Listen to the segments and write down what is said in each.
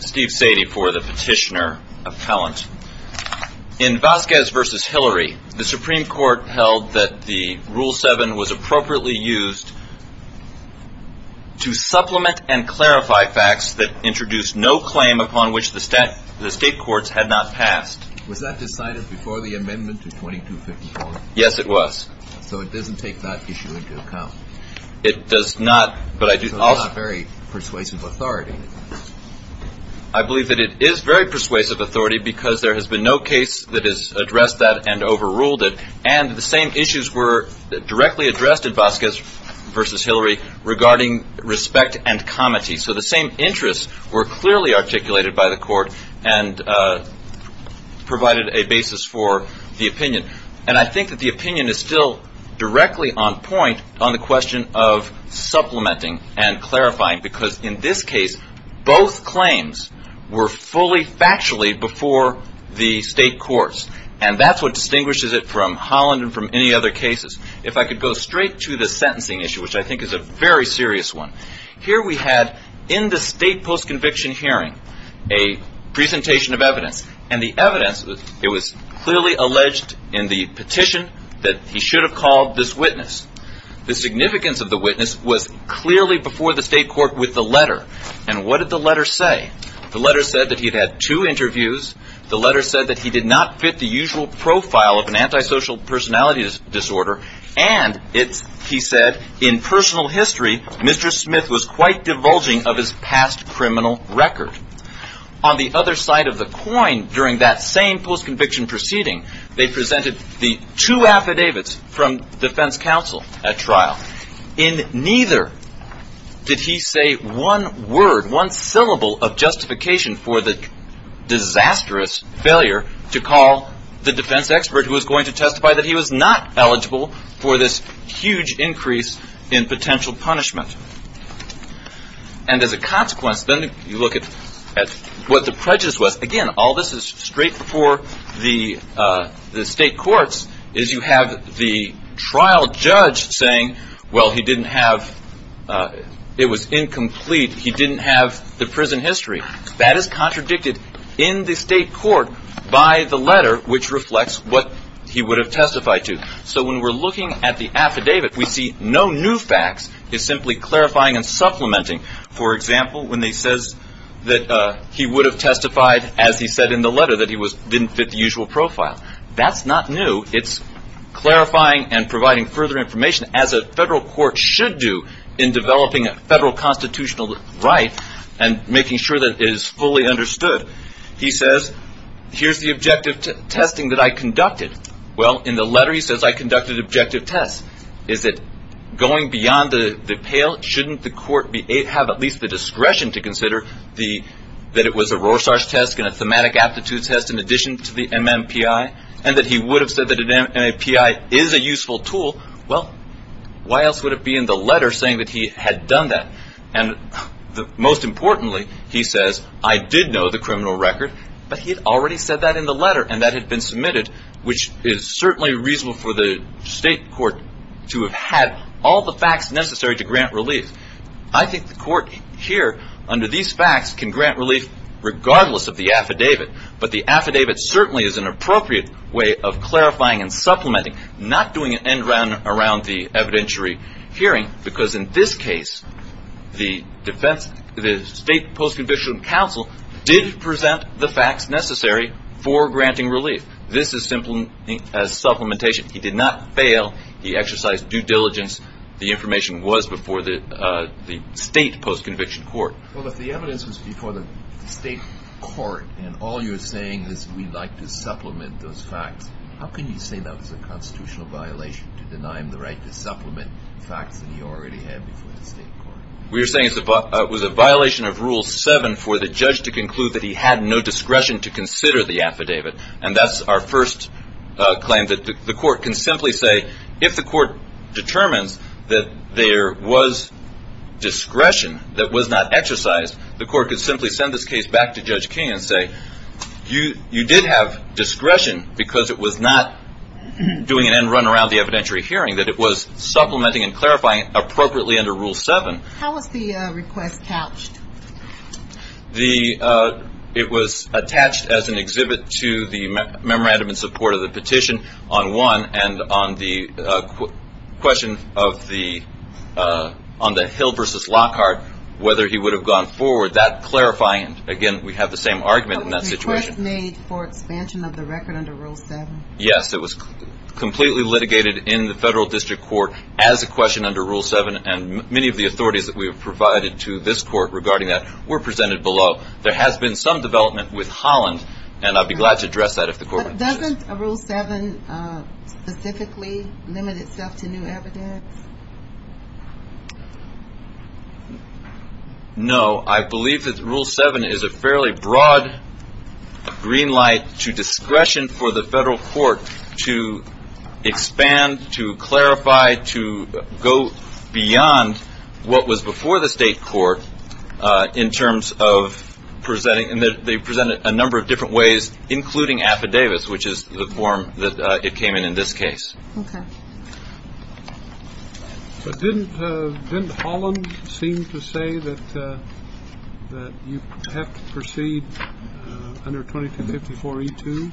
Steve Sadie for the petitioner appellant. In Vasquez v. Hillary the Supreme Court held that the Rule 7 was appropriately used to supplement and clarify facts that introduced no claim upon which the state courts had not passed. Was that decided before the amendment to 2254? Yes, it was. So it doesn't take that issue into account? It does not, but I do also It's not very persuasive authority. I believe that it is very persuasive authority because there has been no case that has addressed that and overruled it. And the same issues were directly addressed in Vasquez v. Hillary regarding respect and comity. So the same interests were clearly articulated by the Court and provided a basis for the opinion. And I think that the opinion is still directly on point on the question of supplementing and clarifying because in this case both claims were fully factually before the state courts. And that's what distinguishes it from Holland and from any other cases. If I could go straight to the sentencing issue, which I think is a very serious one. Here we had in the state post-conviction hearing a presentation of evidence. And the evidence, it was clearly alleged in the petition that he should have called this witness. The significance of the witness was clearly before the state court with the letter. And what did the letter say? The letter said that he had had two interviews. The letter said that he did not fit the usual profile of an antisocial personality disorder. And it, he said, in personal history, Mr. Smith was quite divulging of his past criminal record. On the other side of the coin during that same post-conviction proceeding, they presented the two affidavits from defense counsel at trial. In neither did he say one word, one syllable of justification for the disastrous failure to call the defense expert who was going to testify that he was not eligible for this huge increase in potential punishment. And as a consequence, then you look at what the prejudice was. Again, all this is straight before the state courts is you have the trial judge saying, well, he didn't have, it was incomplete. He didn't have the prison history. That is contradicted in the state court by the letter, which reflects what he would have testified to. So when we're looking at the affidavit, we see no new facts. It's simply clarifying and supplementing. For example, when he says that he would have testified, as he said in the letter, that he didn't fit the usual profile. That's not new. It's clarifying and providing further information, as a federal court should do in developing a federal constitutional right and making sure that it is fully understood. He says, here's the objective testing that I conducted. Well, in the letter, he says, I conducted objective tests. Is it going beyond the pale? Shouldn't the court have at least the discretion to consider that it was a Rorschach test and a thematic aptitude test in addition to the MMPI? And that he would have said that an MMPI is a useful tool. Well, why else would it be in the letter saying that he had done that? And most importantly, he says, I did know the criminal record, but he had already said that in the letter. And that had been submitted, which is certainly reasonable for the state court to have had all the facts necessary to grant relief. I think the court here, under these facts, can grant relief regardless of the affidavit. But the affidavit certainly is an appropriate way of clarifying and supplementing, not doing an end around the evidentiary hearing. Because in this case, the state post-conviction counsel did present the facts necessary for granting relief. This is supplementation. He did not fail. He exercised due diligence. The information was before the state post-conviction court. Well, if the evidence was before the state court, and all you're saying is we'd like to supplement those facts, how can you say that was a constitutional violation to deny him the right to supplement the facts that he already had before the state court? We're saying it was a violation of Rule 7 for the judge to conclude that he had no discretion to consider the affidavit. And that's our first claim, that the court can simply say, if the court determines that there was discretion that was not exercised, the court could simply send this case back to Judge King and say, you did have discretion because it was not doing an end run around the evidentiary hearing, that it was supplementing and clarifying appropriately under Rule 7. How was the request couched? It was attached as an exhibit to the memorandum in support of the petition on 1, and on the question on the Hill v. Lockhart, whether he would have gone forward, that clarifying. Again, we have the same argument in that situation. Was the request made for expansion of the record under Rule 7? Yes, it was completely litigated in the federal district court as a question under Rule 7, and many of the authorities that we have provided to this court regarding that were presented below. There has been some development with Holland, and I'd be glad to address that if the court wants to. Doesn't Rule 7 specifically limit itself to new evidence? No, I believe that Rule 7 is a fairly broad green light to discretion for the federal court to expand, to clarify, to go beyond what was before the state court in terms of presenting, and they presented a number of different ways, including affidavits, which is the form that it came in in this case. Okay. Didn't Holland seem to say that you have to proceed under 2254E2?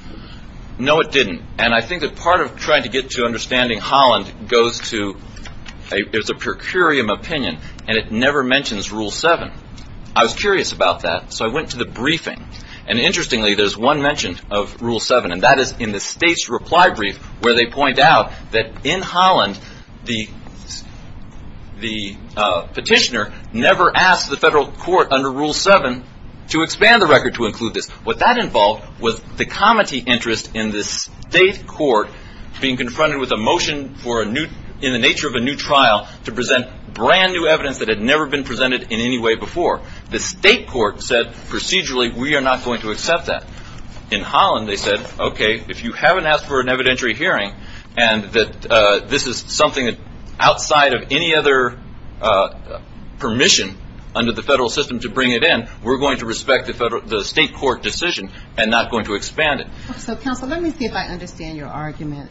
No, it didn't. And I think that part of trying to get to understanding Holland goes to, there's a per curiam opinion, and it never mentions Rule 7. I was curious about that, so I went to the briefing, and interestingly, there's one mention of Rule 7, and that is in the state's reply brief where they point out that in Holland, the petitioner never asked the federal court under Rule 7 to expand the record to include this. What that involved was the comity interest in the state court being confronted with a motion in the nature of a new trial to present brand-new evidence that had never been presented in any way before. The state court said procedurally, we are not going to accept that. In Holland, they said, okay, if you haven't asked for an evidentiary hearing, and that this is something that outside of any other permission under the federal system to bring it in, we're going to respect the state court decision and not going to expand it. So, counsel, let me see if I understand your argument.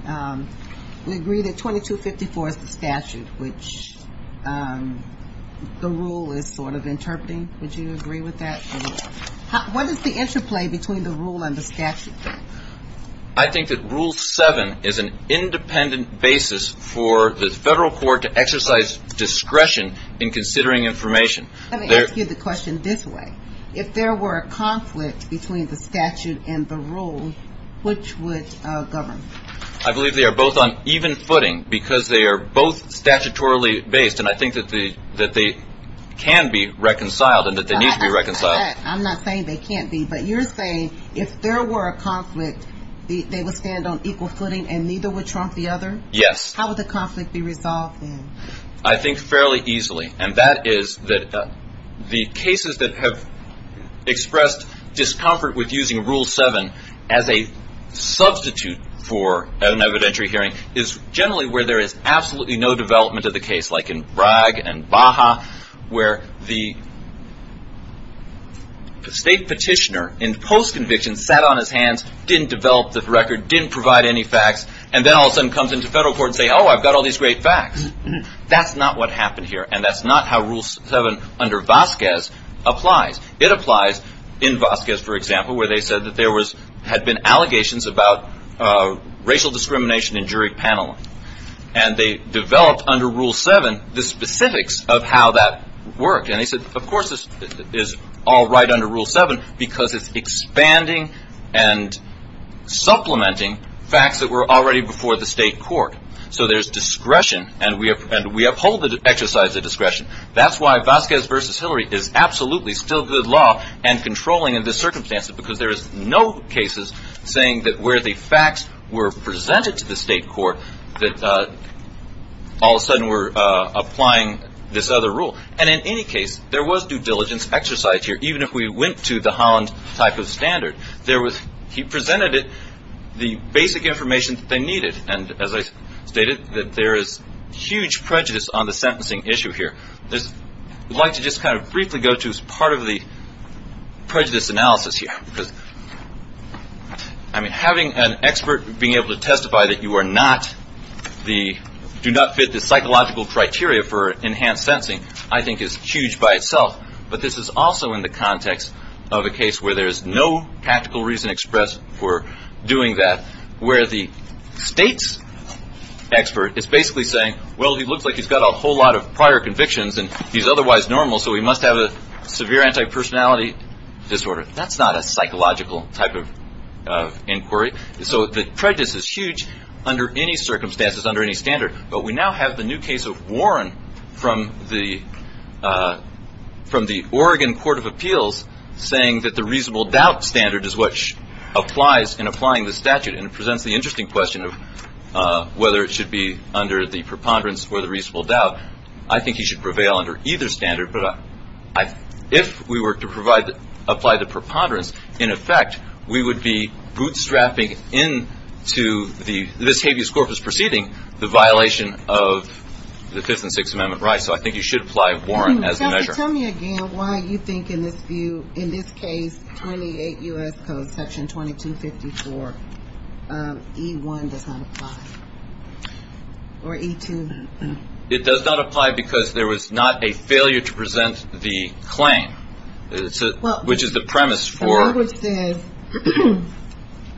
We agree that 2254 is the statute, which the rule is sort of interpreting. Would you agree with that? What is the interplay between the rule and the statute? I think that Rule 7 is an independent basis for the federal court to exercise discretion in considering information. Let me ask you the question this way. If there were a conflict between the statute and the rule, which would govern? I believe they are both on even footing because they are both statutorily based, and I think that they can be reconciled and that they need to be reconciled. I'm not saying they can't be, but you're saying if there were a conflict, they would stand on equal footing and neither would trump the other? Yes. How would the conflict be resolved then? I think fairly easily, and that is that the cases that have expressed discomfort with using Rule 7 as a substitute for an evidentiary hearing is generally where there is absolutely no development of the case, like in Bragg and Baja, where the state petitioner in post-conviction sat on his hands, didn't develop the record, didn't provide any facts, and then all of a sudden comes into federal court and says, oh, I've got all these great facts. That's not what happened here, and that's not how Rule 7 under Vasquez applies. It applies in Vasquez, for example, where they said that there had been allegations about racial discrimination in jury paneling, and they developed under Rule 7 the specifics of how that worked. And they said, of course this is all right under Rule 7 because it's expanding and supplementing facts that were already before the state court. So there's discretion, and we uphold the exercise of discretion. That's why Vasquez v. Hillary is absolutely still good law and controlling in this circumstance because there is no cases saying that where the facts were presented to the state court, that all of a sudden we're applying this other rule. And in any case, there was due diligence exercise here. Even if we went to the Holland type of standard, he presented it, the basic information that they needed, and as I stated, that there is huge prejudice on the sentencing issue here. I'd like to just kind of briefly go to as part of the prejudice analysis here because having an expert being able to testify that you do not fit the psychological criteria for enhanced sentencing, I think is huge by itself. But this is also in the context of a case where there is no practical reason expressed for doing that, where the state's expert is basically saying, well, he looks like he's got a whole lot of prior convictions, and he's otherwise normal, so he must have a severe antipersonality disorder. That's not a psychological type of inquiry. So the prejudice is huge under any circumstances, under any standard. But we now have the new case of Warren from the Oregon Court of Appeals saying that the reasonable doubt standard is what applies in applying the statute, and it presents the interesting question of whether it should be under the preponderance or the reasonable doubt. I think he should prevail under either standard, but if we were to apply the preponderance, we would be bootstrapping into this habeas corpus proceeding the violation of the Fifth and Sixth Amendment rights. So I think he should apply Warren as a measure. Tell me again why you think in this view, in this case, 28 U.S. Code Section 2254, E1 does not apply, or E2? It does not apply because there was not a failure to present the claim, which is the premise for. The language says,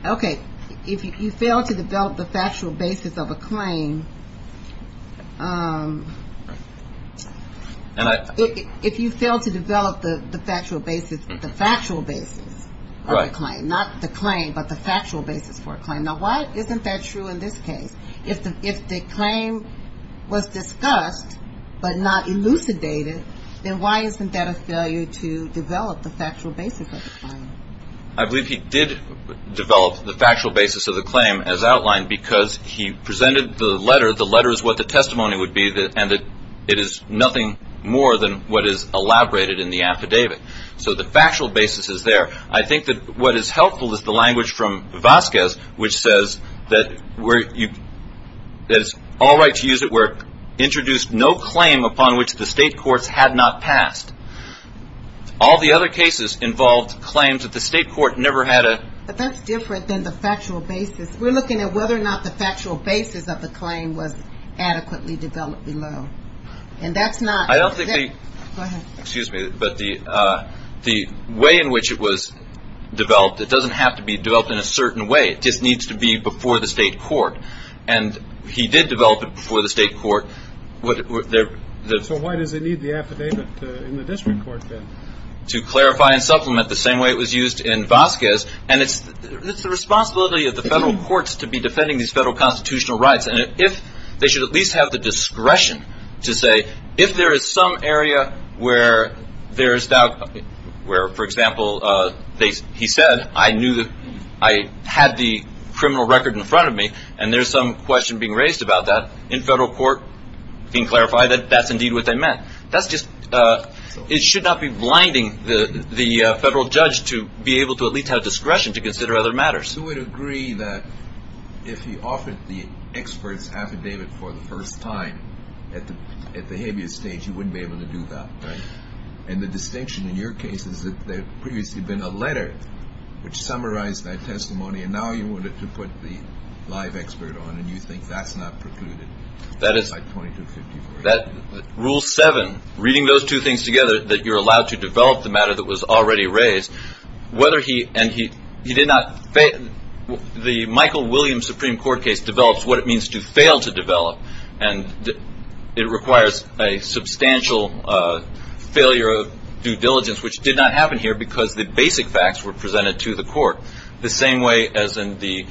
okay, if you fail to develop the factual basis of a claim, if you fail to develop the factual basis of a claim, not the claim, but the factual basis for a claim. Now why isn't that true in this case? If the claim was discussed but not elucidated, then why isn't that a failure to develop the factual basis of the claim? I believe he did develop the factual basis of the claim as outlined because he presented the letter. The letter is what the testimony would be, and it is nothing more than what is elaborated in the affidavit. So the factual basis is there. I think that what is helpful is the language from Vasquez, which says that it is all right to use it, where introduced no claim upon which the state courts had not passed. All the other cases involved claims that the state court never had a... But that's different than the factual basis. We're looking at whether or not the factual basis of the claim was adequately developed below, and that's not... I don't think the... Go ahead. It doesn't have to be developed in a certain way. It just needs to be before the state court, and he did develop it before the state court. So why does it need the affidavit in the district court then? To clarify and supplement the same way it was used in Vasquez, and it's the responsibility of the federal courts to be defending these federal constitutional rights. They should at least have the discretion to say, if there is some area where there is doubt, where, for example, he said, I knew that I had the criminal record in front of me, and there's some question being raised about that, in federal court being clarified that that's indeed what they meant. That's just... It should not be blinding the federal judge to be able to at least have discretion to consider other matters. I would agree that if he offered the expert's affidavit for the first time at the habeas stage, he wouldn't be able to do that. And the distinction in your case is that there had previously been a letter which summarized that testimony, and now you wanted to put the live expert on, and you think that's not precluded by 2254. Rule 7, reading those two things together, that you're allowed to develop the matter that was already raised, whether he... and he did not... The Michael Williams Supreme Court case develops what it means to fail to develop, and it requires a substantial failure of due diligence, which did not happen here, because the basic facts were presented to the court the same way as in the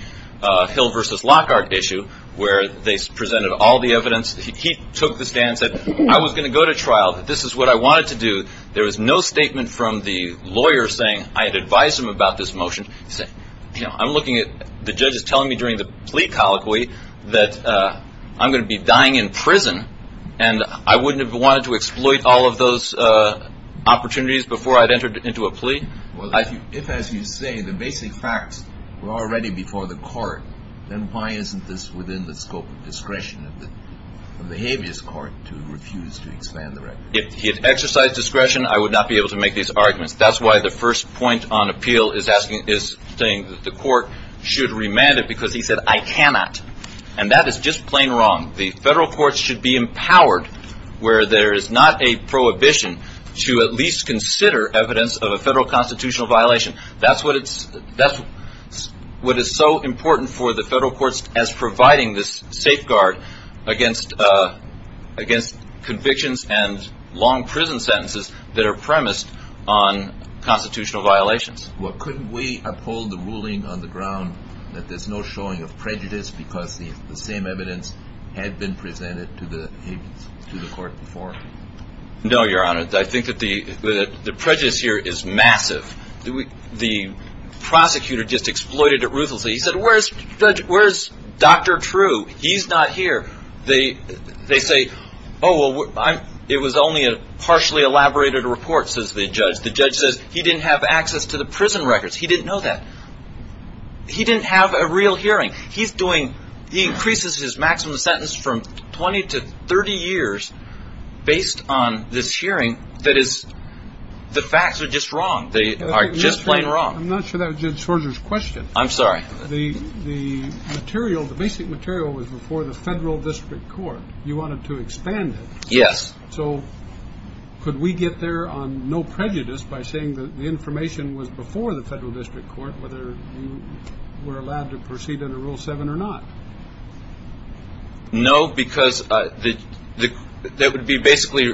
Hill v. Lockhart issue, where they presented all the evidence. He took the stand and said, I was going to go to trial. This is what I wanted to do. There was no statement from the lawyer saying I had advised him about this motion. He said, you know, I'm looking at... the judge is telling me during the plea colloquy that I'm going to be dying in prison, and I wouldn't have wanted to exploit all of those opportunities before I'd entered into a plea. Well, if, as you say, the basic facts were already before the court, then why isn't this within the scope of discretion of the habeas court to refuse to expand the record? If he had exercised discretion, I would not be able to make these arguments. That's why the first point on appeal is saying that the court should remand it, because he said, I cannot. And that is just plain wrong. The federal courts should be empowered where there is not a prohibition to at least consider evidence of a federal constitutional violation. That's what is so important for the federal courts as providing this safeguard against convictions and long prison sentences that are premised on constitutional violations. Well, couldn't we uphold the ruling on the ground that there's no showing of prejudice because the same evidence had been presented to the court before? No, Your Honor. I think that the prejudice here is massive. The prosecutor just exploited it ruthlessly. He said, where's Dr. True? He's not here. They say, oh, well, it was only a partially elaborated report, says the judge. The judge says he didn't have access to the prison records. He didn't know that. He didn't have a real hearing. He's doing, he increases his maximum sentence from 20 to 30 years based on this hearing that is, the facts are just wrong. They are just plain wrong. I'm not sure that was Judge Sorger's question. I'm sorry. The material, the basic material was before the federal district court. You wanted to expand it. Yes. So could we get there on no prejudice by saying that the information was before the federal district court, whether you were allowed to proceed under Rule 7 or not? No, because that would be basically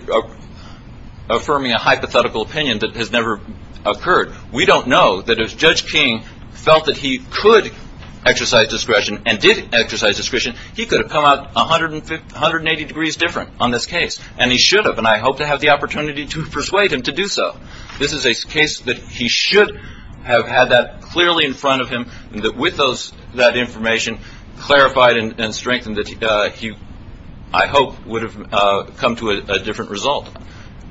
affirming a hypothetical opinion that has never occurred. We don't know that if Judge King felt that he could exercise discretion and did exercise discretion, he could have come out 180 degrees different on this case. And he should have. And I hope to have the opportunity to persuade him to do so. This is a case that he should have had that clearly in front of him and that with that information clarified and strengthened that he, I hope, would have come to a different result.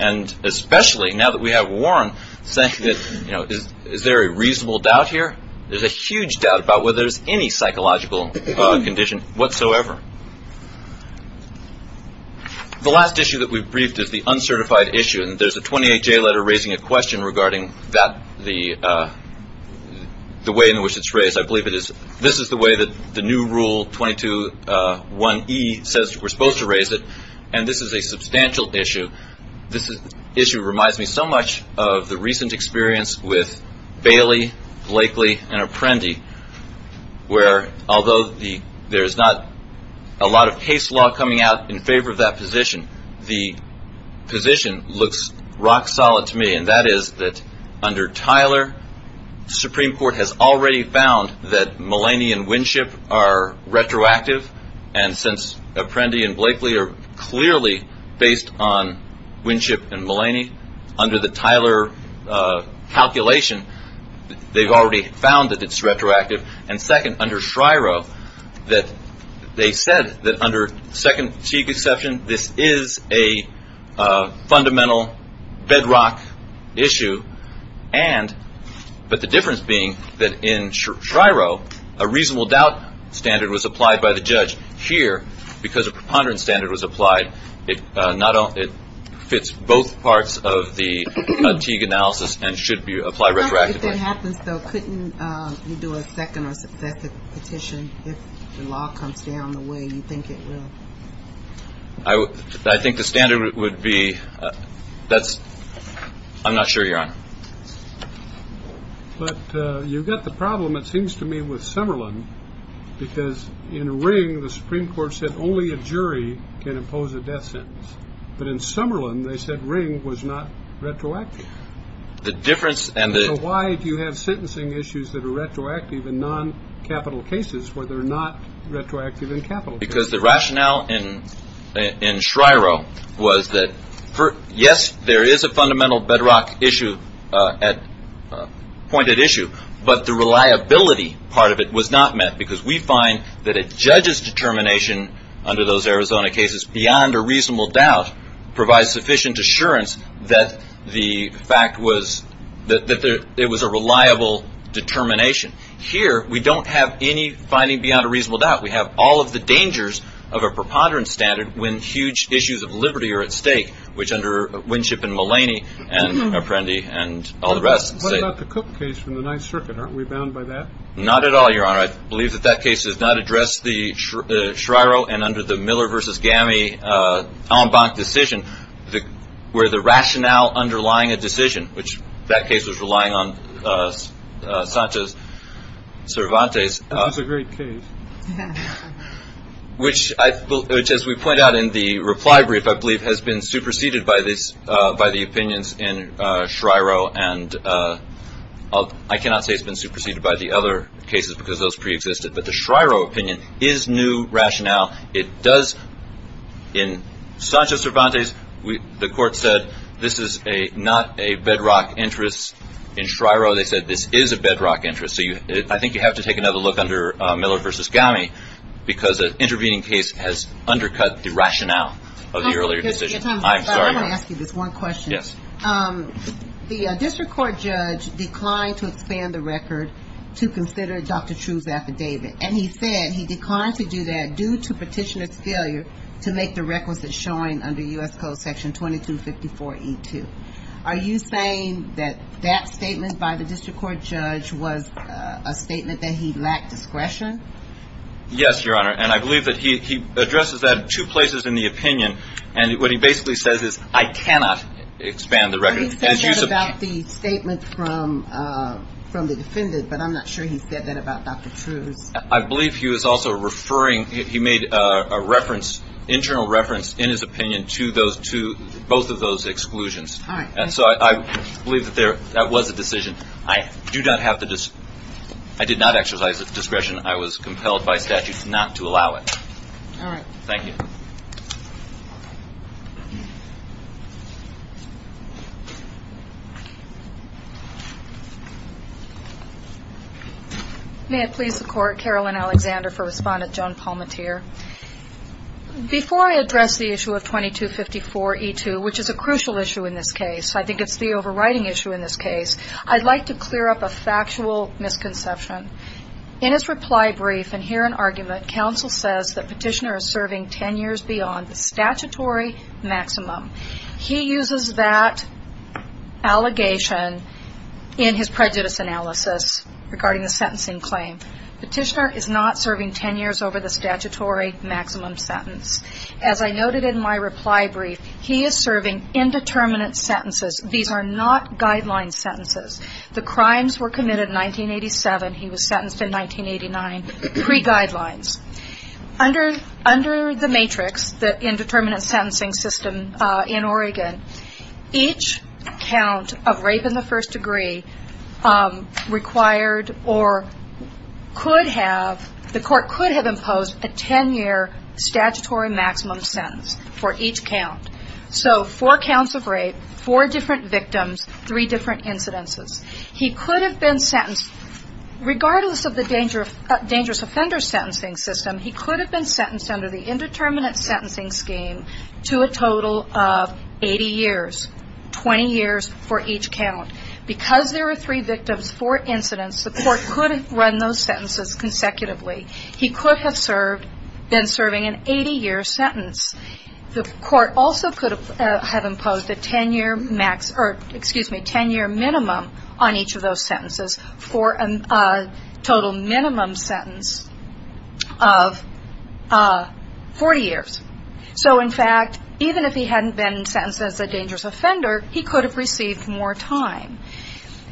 And especially now that we have Warren saying that, you know, is there a reasonable doubt here? There's a huge doubt about whether there's any psychological condition whatsoever. The last issue that we've briefed is the uncertified issue. And there's a 28-J letter raising a question regarding that, the way in which it's raised. I believe it is. This is the way that the new Rule 22-1E says we're supposed to raise it. And this is a substantial issue. This issue reminds me so much of the recent experience with Bailey, Blakely, and Apprendi, where although there's not a lot of case law coming out in favor of that position, the position looks rock solid to me, and that is that under Tyler, the Supreme Court has already found that Malaney and Winship are retroactive. And since Apprendi and Blakely are clearly based on Winship and Malaney, under the Tyler calculation, they've already found that it's retroactive. And second, under Shryro, they said that under second C conception, this is a fundamental bedrock issue. But the difference being that in Shryro, a reasonable doubt standard was applied by the judge. Here, because a preponderance standard was applied, it fits both parts of the Teague analysis and should apply retroactively. If that happens, though, couldn't you do a second or successive petition if the law comes down the way you think it will? I think the standard would be that's ‑‑ I'm not sure, Your Honor. But you've got the problem, it seems to me, with Summerlin, because in Ring, the Supreme Court said only a jury can impose a death sentence. But in Summerlin, they said Ring was not retroactive. So why do you have sentencing issues that are retroactive in noncapital cases where they're not retroactive in capital cases? Because the rationale in Shryro was that, yes, there is a fundamental bedrock issue, pointed issue, but the reliability part of it was not met because we find that a judge's determination under those Arizona cases, beyond a reasonable doubt, provides sufficient assurance that the fact was that it was a reliable determination. Here, we don't have any finding beyond a reasonable doubt. We have all of the dangers of a preponderance standard when huge issues of liberty are at stake, which under Winship and Mulaney and Apprendi and all the rest say. What about the Cook case from the Ninth Circuit? Aren't we bound by that? Not at all, Your Honor. I believe that that case does not address the Shryro and under the Miller v. Gammie en banc decision, where the rationale underlying a decision, which that case was relying on Sanchez Cervantes. That was a great case. Which, as we point out in the reply brief, I believe has been superseded by the opinions in Shryro. I cannot say it's been superseded by the other cases because those preexisted, but the Shryro opinion is new rationale. In Sanchez Cervantes, the court said this is not a bedrock interest. In Shryro, they said this is a bedrock interest. So I think you have to take another look under Miller v. Gammie, because an intervening case has undercut the rationale of the earlier decision. I'm sorry. I want to ask you this one question. Yes. The district court judge declined to expand the record to consider Dr. True's affidavit, and he said he declined to do that due to petitioner's failure to make the requisite showing under U.S. Code section 2254E2. Are you saying that that statement by the district court judge was a statement that he lacked discretion? Yes, Your Honor, and I believe that he addresses that in two places in the opinion, and what he basically says is, I cannot expand the record. He said that about the statement from the defendant, but I'm not sure he said that about Dr. True's. I believe he was also referring, he made an internal reference in his opinion to both of those exclusions, and so I believe that that was a decision. I did not exercise discretion. I was compelled by statute not to allow it. All right. Thank you. May it please the Court, Carolyn Alexander for Respondent, Joan Palmatier. Before I address the issue of 2254E2, which is a crucial issue in this case, I think it's the overriding issue in this case, I'd like to clear up a factual misconception. In his reply brief, and here in argument, counsel says that petitioner is serving 10 years beyond the age of 60. He uses that allegation in his prejudice analysis regarding the sentencing claim. Petitioner is not serving 10 years over the statutory maximum sentence. As I noted in my reply brief, he is serving indeterminate sentences. These are not guideline sentences. The crimes were committed in 1987. He was sentenced in 1989, pre-guidelines. Under the matrix, the indeterminate sentencing system in Oregon, each count of rape in the first degree required or could have, the Court could have imposed a 10-year statutory maximum sentence for each count. So four counts of rape, four different victims, three different incidences. He could have been sentenced, regardless of the dangerous offender sentencing system, he could have been sentenced under the indeterminate sentencing scheme to a total of 80 years, 20 years for each count. Because there were three victims, four incidents, the Court could run those sentences consecutively. He could have served, been serving an 80-year sentence. The Court also could have imposed a 10-year minimum on each of those sentences for a total minimum sentence of 40 years. So in fact, even if he hadn't been sentenced as a dangerous offender, he could have received more time.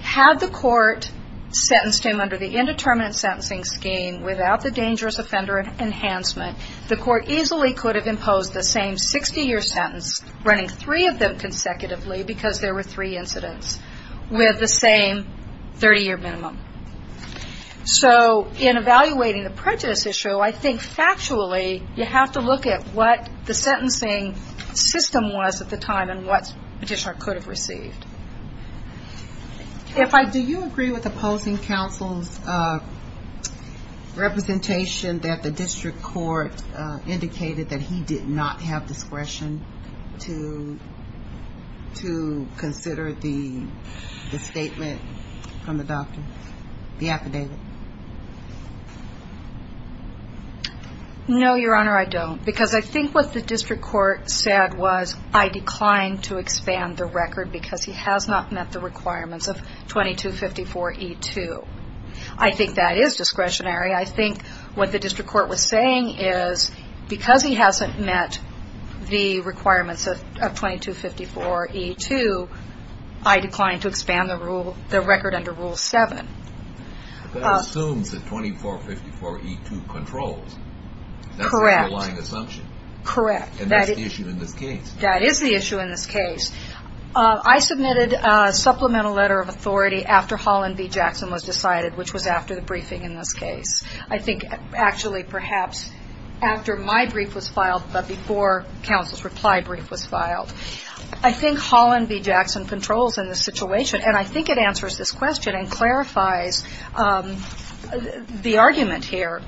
Had the Court sentenced him under the indeterminate sentencing scheme without the dangerous offender enhancement, the Court easily could have imposed the same 60-year sentence, running three of them consecutively because there were three incidents, with the same 30-year minimum. So in evaluating the prejudice issue, I think factually you have to look at what the sentencing system was at the time and what petitioner could have received. Do you agree with opposing counsel's representation that the district court indicated that he did not have discretion to consider the statement from the doctor, the affidavit? No, Your Honor, I don't. Because I think what the district court said was, I declined to expand the record because he has not met the requirements of 2254E2. I think that is discretionary. I think what the district court was saying is, because he hasn't met the requirements of 2254E2, I declined to expand the record under Rule 7. But that assumes that 2454E2 controls. Correct. That's the underlying assumption. Correct. And that's the issue in this case. That is the issue in this case. I submitted a supplemental letter of authority after Holland v. Jackson was decided, which was after the briefing in this case. I think actually perhaps after my brief was filed but before counsel's reply brief was filed. I think Holland v. Jackson controls in this situation, and I think it answers this question and clarifies the argument here.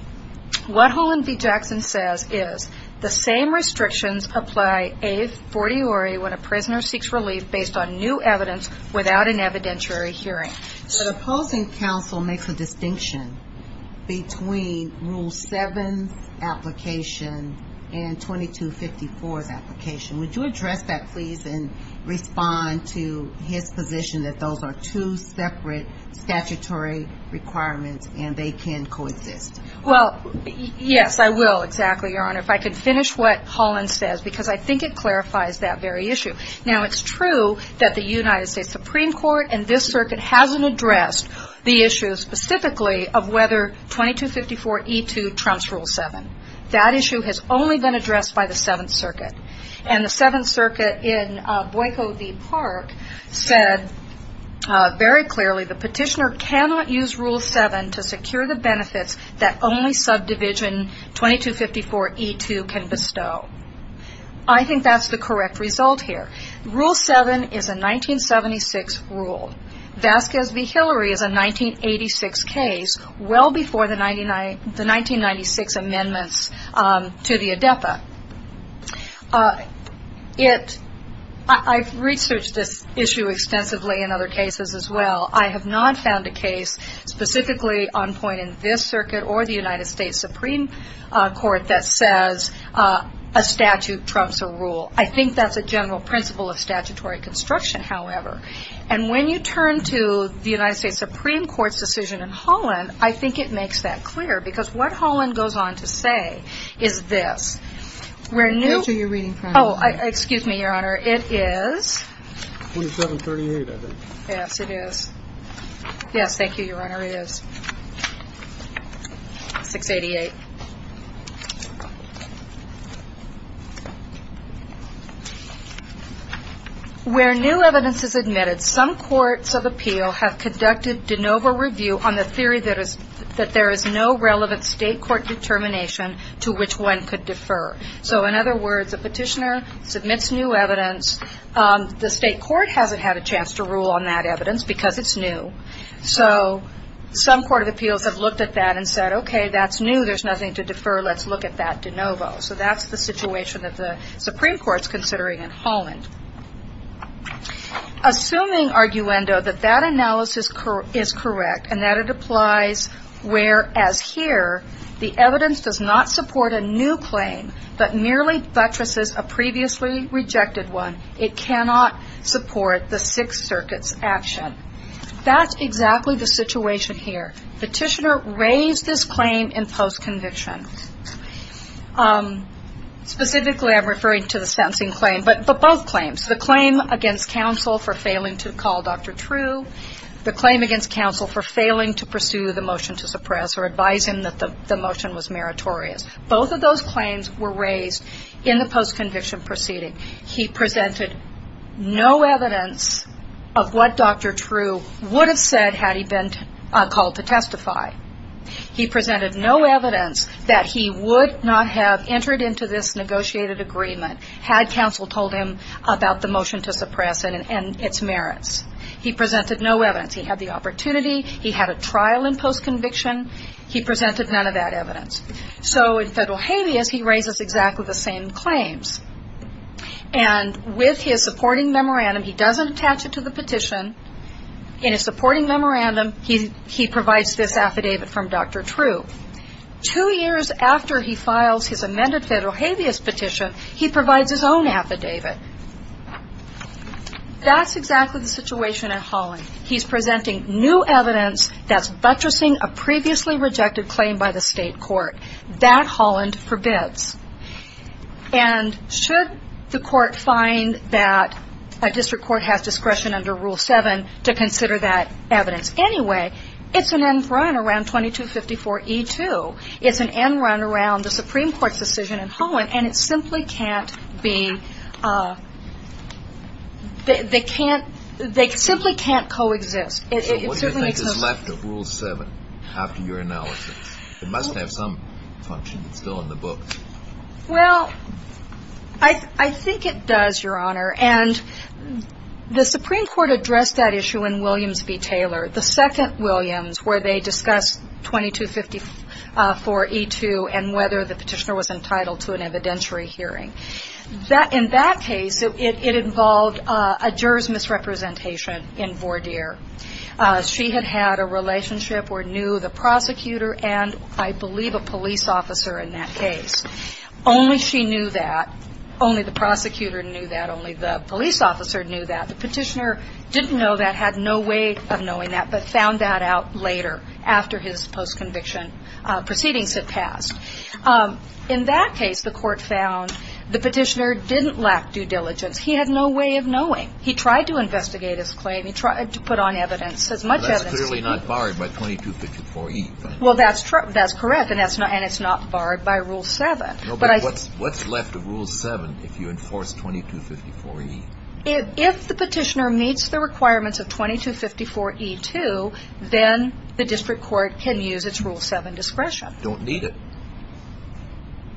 What Holland v. Jackson says is, the same restrictions apply a fortiori when a prisoner seeks relief based on new evidence without an evidentiary hearing. But opposing counsel makes a distinction between Rule 7's application and 2254's application. Would you address that, please, and respond to his position that those are two separate statutory requirements and they can coexist? Well, yes, I will, exactly, Your Honor. If I could finish what Holland says because I think it clarifies that very issue. Now, it's true that the United States Supreme Court and this circuit hasn't addressed the issue specifically of whether 2254E2 trumps Rule 7. That issue has only been addressed by the Seventh Circuit. And the Seventh Circuit in Boyko v. Park said very clearly, the petitioner cannot use Rule 7 to secure the benefits that only subdivision 2254E2 can bestow. I think that's the correct result here. Rule 7 is a 1976 rule. Vasquez v. Hillary is a 1986 case, well before the 1996 amendments to the ADEPA. I've researched this issue extensively in other cases as well. I have not found a case specifically on point in this circuit or the United States Supreme Court that says a statute trumps a rule. I think that's a general principle of statutory construction, however. And when you turn to the United States Supreme Court's decision in Holland, I think it makes that clear because what Holland goes on to say is this. Excuse me, Your Honor, it is... 2738, I think. Yes, it is. Yes, thank you, Your Honor, it is. 688. Where new evidence is admitted, some courts of appeal have conducted de novo review on the theory that there is no relevant state court determination to which one could defer. So in other words, a petitioner submits new evidence. The state court hasn't had a chance to rule on that evidence because it's new. So some court of appeals have looked at that and said, okay, that's new. There's nothing to defer. Let's look at that de novo. So that's the situation that the Supreme Court is considering in Holland. Assuming, arguendo, that that analysis is correct and that it applies where, as here, the evidence does not support a new claim but merely buttresses a previously rejected one, it cannot support the Sixth Circuit's action. That's exactly the situation here. Petitioner raised this claim in post-conviction. Specifically, I'm referring to the sentencing claim, but both claims, the claim against counsel for failing to call Dr. True, the claim against counsel for failing to pursue the motion to suppress or advise him that the motion was meritorious. Both of those claims were raised in the post-conviction proceeding. He presented no evidence of what Dr. True would have said had he been called to testify. He presented no evidence that he would not have entered into this negotiated agreement had counsel told him about the motion to suppress and its merits. He presented no evidence. He had the opportunity. He had a trial in post-conviction. He presented none of that evidence. So in federal habeas, he raises exactly the same claims. And with his supporting memorandum, he doesn't attach it to the petition. In his supporting memorandum, he provides this affidavit from Dr. True. Two years after he files his amended federal habeas petition, he provides his own affidavit. That's exactly the situation in Holland. He's presenting new evidence that's buttressing a previously rejected claim by the state court. That Holland forbids. And should the court find that a district court has discretion under Rule 7 to consider that evidence anyway, it's an end run around 2254E2. It's an end run around the Supreme Court's decision in Holland. And it simply can't be they can't they simply can't coexist. It certainly exists. It must have some function. It's still in the book. Well, I think it does, Your Honor. And the Supreme Court addressed that issue in Williams v. Taylor, the second Williams, where they discussed 2254E2 and whether the petitioner was entitled to an evidentiary hearing. In that case, it involved a juror's misrepresentation in Vordier. She had had a relationship or knew the prosecutor and, I believe, a police officer in that case. Only she knew that. Only the prosecutor knew that. Only the police officer knew that. The petitioner didn't know that, had no way of knowing that, but found that out later after his post-conviction proceedings had passed. In that case, the court found the petitioner didn't lack due diligence. He had no way of knowing. He tried to investigate his claim. He tried to put on evidence, as much evidence as he could. But that's clearly not barred by 2254E2. Well, that's correct, and it's not barred by Rule 7. But what's left of Rule 7 if you enforce 2254E2? If the petitioner meets the requirements of 2254E2, then the district court can use its Rule 7 discretion. Don't need it.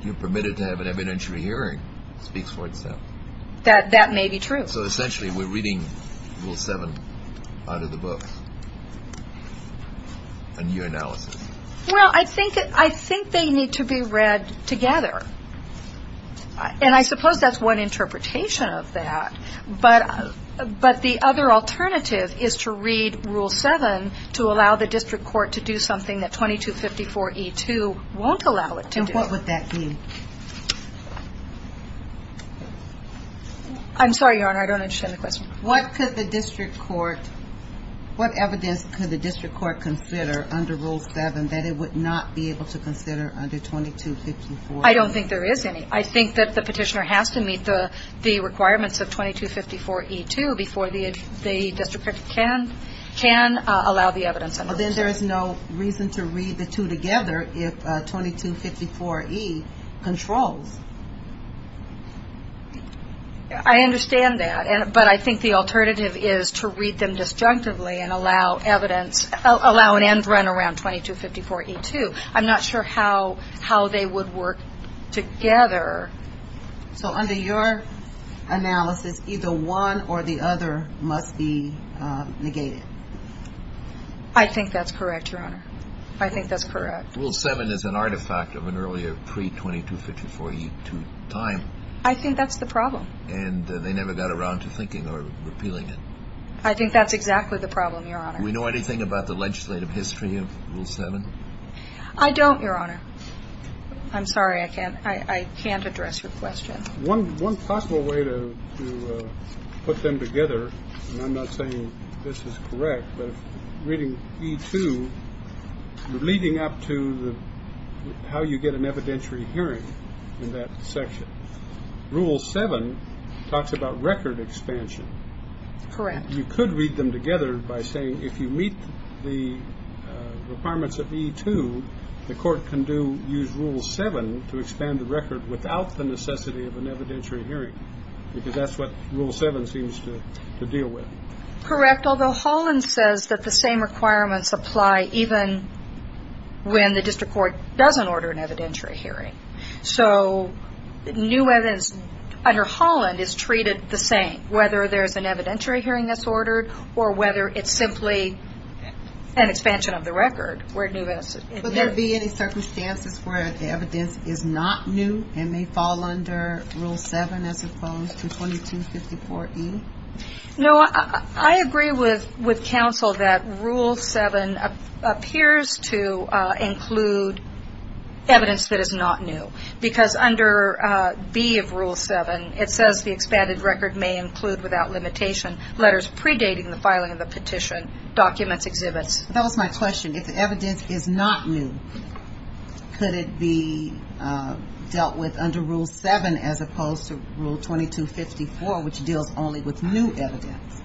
You're permitted to have an evidentiary hearing. It speaks for itself. That may be true. So, essentially, we're reading Rule 7 out of the book in your analysis. Well, I think they need to be read together. And I suppose that's one interpretation of that. But the other alternative is to read Rule 7 to allow the district court to do something that 2254E2 won't allow it to do. Now, what would that be? I'm sorry, Your Honor. I don't understand the question. What could the district court – what evidence could the district court consider under Rule 7 that it would not be able to consider under 2254E2? I don't think there is any. I think that the petitioner has to meet the requirements of 2254E2 before the district court can allow the evidence under Rule 7. So then there is no reason to read the two together if 2254E controls. I understand that. But I think the alternative is to read them disjunctively and allow an end run around 2254E2. I'm not sure how they would work together. So under your analysis, either one or the other must be negated. I think that's correct, Your Honor. I think that's correct. Rule 7 is an artifact of an earlier pre-2254E2 time. I think that's the problem. And they never got around to thinking or repealing it. I think that's exactly the problem, Your Honor. Do we know anything about the legislative history of Rule 7? I don't, Your Honor. I'm sorry. I can't address your question. One possible way to put them together, and I'm not saying this is correct, but reading E2 leading up to how you get an evidentiary hearing in that section, Rule 7 talks about record expansion. Correct. You could read them together by saying if you meet the requirements of E2, the court can use Rule 7 to expand the record without the necessity of an evidentiary hearing because that's what Rule 7 seems to deal with. Correct, although Holland says that the same requirements apply even when the district court doesn't order an evidentiary hearing. So under Holland, it's treated the same, whether there's an evidentiary hearing that's ordered or whether it's simply an expansion of the record. Would there be any circumstances where the evidence is not new and may fall under Rule 7 as opposed to 2254E? No, I agree with counsel that Rule 7 appears to include evidence that is not new because under B of Rule 7, it says the expanded record may include without limitation letters predating the filing of the petition, documents, exhibits. That was my question. If the evidence is not new, could it be dealt with under Rule 7 as opposed to Rule 2254, which deals only with new evidence?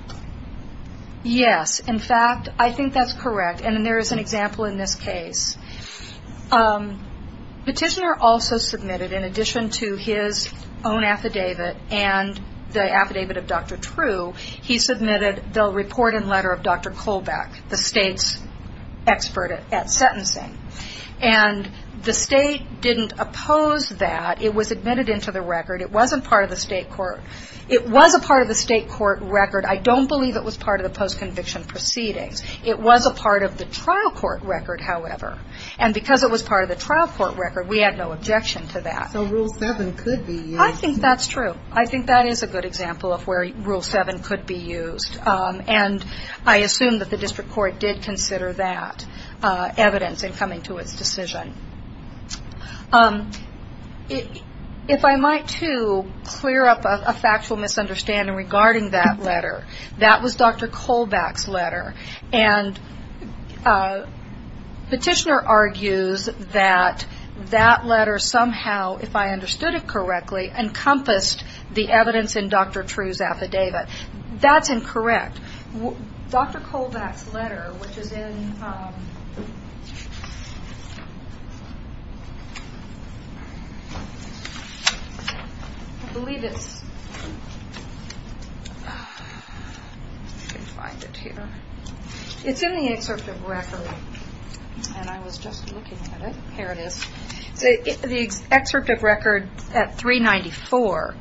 Yes, in fact, I think that's correct, and there is an example in this case. Petitioner also submitted, in addition to his own affidavit and the affidavit of Dr. True, he submitted the report and letter of Dr. Kolbeck, the state's expert at sentencing. And the state didn't oppose that. It was admitted into the record. It wasn't part of the state court. It was a part of the state court record. I don't believe it was part of the post-conviction proceedings. It was a part of the trial court record, however, and because it was part of the trial court record, we had no objection to that. So Rule 7 could be used. I think that's true. I think that is a good example of where Rule 7 could be used, and I assume that the district court did consider that evidence in coming to its decision. If I might, too, clear up a factual misunderstanding regarding that letter. And Petitioner argues that that letter somehow, if I understood it correctly, encompassed the evidence in Dr. True's affidavit. That's incorrect. Dr. Kolbeck's letter, which is in, I believe it's, if I can find it here. It's in the excerpt of record, and I was just looking at it. Here it is. The excerpt of record at 394.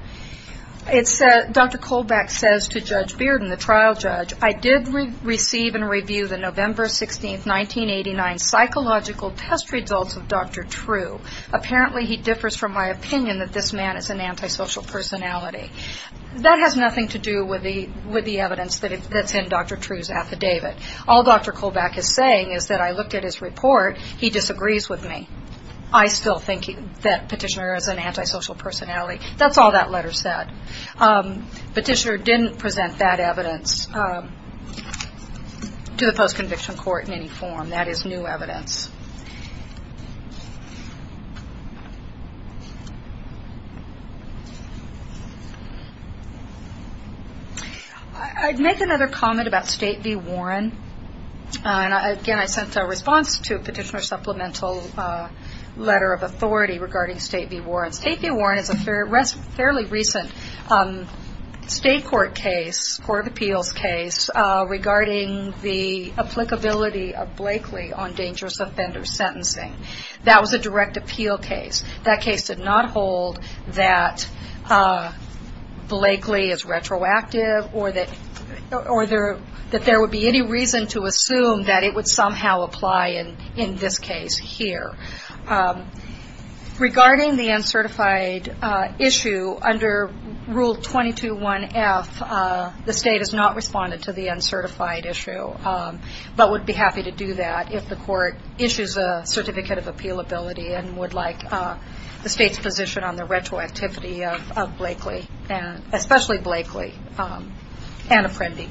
Dr. Kolbeck says to Judge Bearden, the trial judge, I did receive and review the November 16, 1989 psychological test results of Dr. True. Apparently he differs from my opinion that this man is an antisocial personality. That has nothing to do with the evidence that's in Dr. True's affidavit. All Dr. Kolbeck is saying is that I looked at his report. He disagrees with me. I still think that Petitioner is an antisocial personality. That's all that letter said. Petitioner didn't present that evidence to the post-conviction court in any form. That is new evidence. I'd make another comment about State v. Warren. Again, I sent a response to Petitioner's supplemental letter of authority regarding State v. Warren. State v. Warren is a fairly recent state court case, court of appeals case, regarding the applicability of Blakely on dangerous offender sentencing. That was a direct appeal case. That case did not hold that Blakely is retroactive or that there would be any reason to assume that it would somehow apply in this case here. Regarding the uncertified issue, under Rule 22.1.F, the state has not responded to the uncertified issue, but would be happy to do that if the court issues a certificate of appealability and would like the state's position on the retroactivity of Blakely, especially Blakely and Apprendi.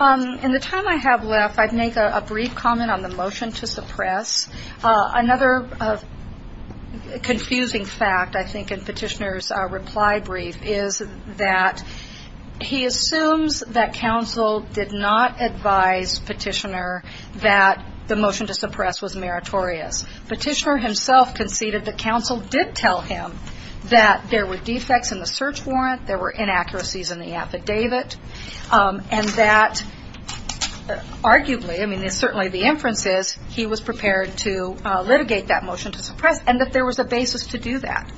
In the time I have left, I'd make a brief comment on the motion to suppress. Another confusing fact, I think, in Petitioner's reply brief is that he assumes that counsel did not advise Petitioner that the motion to suppress was meritorious. Petitioner himself conceded that counsel did tell him that there were defects in the motion to suppress, there were inaccuracies in the search warrant, there were inaccuracies in the affidavit, and that arguably, I mean, certainly the inference is he was prepared to litigate that motion to suppress and that there was a basis to do that.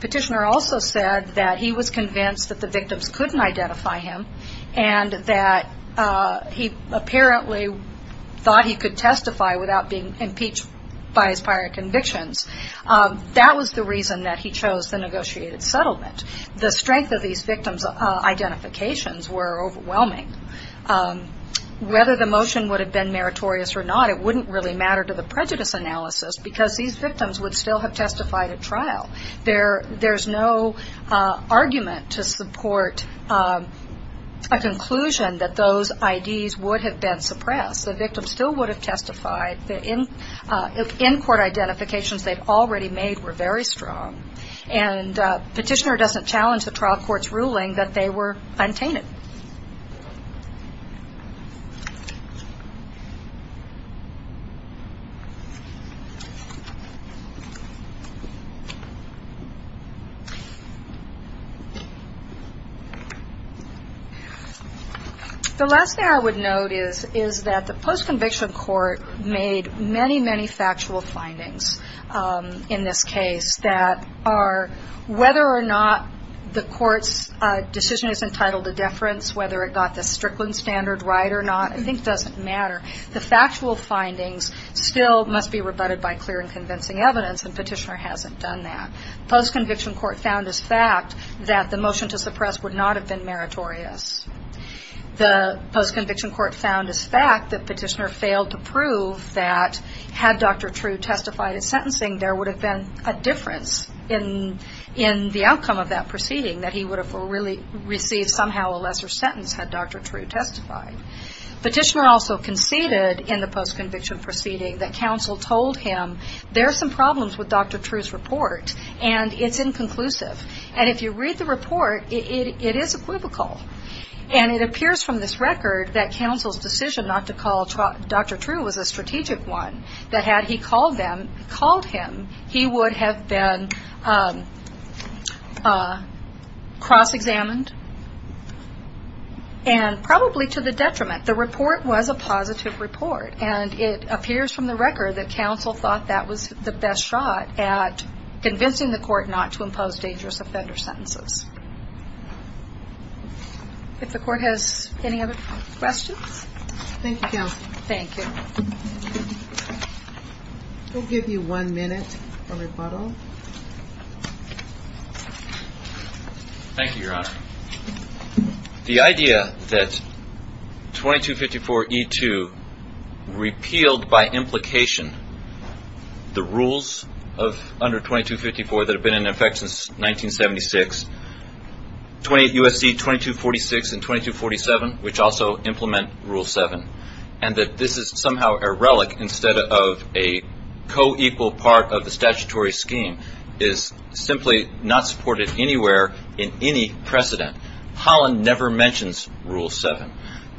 Petitioner also said that he was convinced that the victims couldn't identify him and that he apparently thought he could testify without being impeached by his prior convictions. That was the reason that he chose the negotiated settlement. The strength of these victims' identifications were overwhelming. Whether the motion would have been meritorious or not, it wouldn't really matter to the prejudice analysis because these victims would still have testified at trial. There's no argument to support a conclusion that those IDs would have been suppressed. The victim still would have testified. The in-court identifications they've already made were very strong. And Petitioner doesn't challenge the trial court's ruling that they were untainted. The last thing I would note is that the post-conviction court made many, many factual findings in this case that are whether or not the court's decision is entitled to deference, whether it got the Strickland standard right or not, I think doesn't matter. The factual findings still must be rebutted by clear and convincing evidence, and Petitioner hasn't done that. Post-conviction court found as fact that the motion to suppress would not have been meritorious. The post-conviction court found as fact that Petitioner failed to prove that had Dr. True testified at sentencing, there would have been a difference in the outcome of that proceeding, that he would have really received somehow a lesser sentence had Dr. True testified. Petitioner also conceded in the post-conviction proceeding that counsel told him, there are some problems with Dr. True's report, and it's inconclusive. And if you read the report, it is equivocal. And it appears from this record that counsel's decision not to call Dr. True was a strategic one, that had he called him, he would have been cross-examined, and probably to the detriment. The report was a positive report, and it appears from the record that counsel thought that was the best shot at convincing the court not to impose dangerous offender sentences. If the court has any other questions? Thank you, counsel. Thank you. We'll give you one minute for rebuttal. Thank you, Your Honor. The idea that 2254E2 repealed by implication the rules of under 2254 that have been in effect since 1976, USC 2246 and 2247, which also implement Rule 7, and that this is somehow a relic instead of a co-equal part of the statutory scheme, is simply not supported anywhere in any precedent. Holland never mentions Rule 7.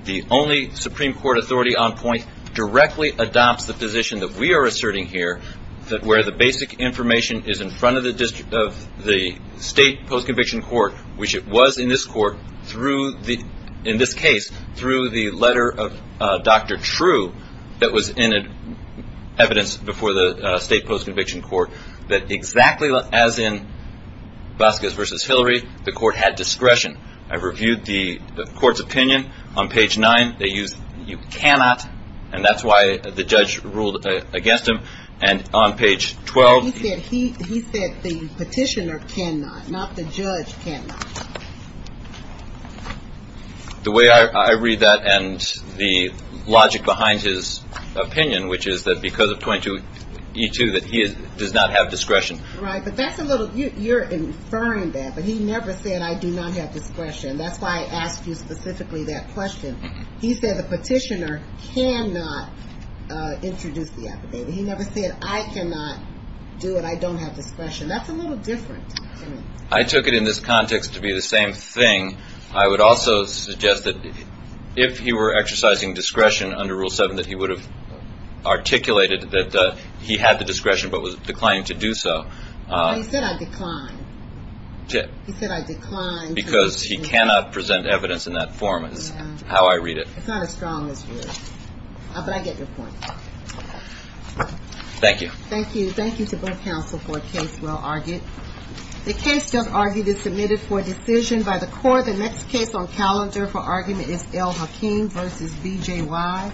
The only Supreme Court authority on point directly adopts the position that we are asserting here, that where the basic information is in front of the State Post-Conviction Court, which it was in this case through the letter of Dr. True, that was in evidence before the State Post-Conviction Court, that exactly as in Vasquez v. Hillary, the court had discretion. I reviewed the court's opinion on page 9. They used, you cannot, and that's why the judge ruled against him. And on page 12. He said the petitioner cannot, not the judge cannot. The way I read that and the logic behind his opinion, which is that because of 2254E2 that he does not have discretion. Right, but that's a little, you're inferring that, but he never said I do not have discretion. That's why I asked you specifically that question. He said the petitioner cannot introduce the affidavit. He never said I cannot do it. I don't have discretion. That's a little different. I took it in this context to be the same thing. I would also suggest that if he were exercising discretion under Rule 7, that he would have articulated that he had the discretion but was declining to do so. He said I declined. He said I declined. Because he cannot present evidence in that form is how I read it. It's not as strong as yours, but I get your point. Thank you. Thank you. Thank you to both counsel for a case well argued. The case just argued is submitted for decision by the court. The next case on calendar for argument is L. Hakeem v. B.J. Wise. Thank you.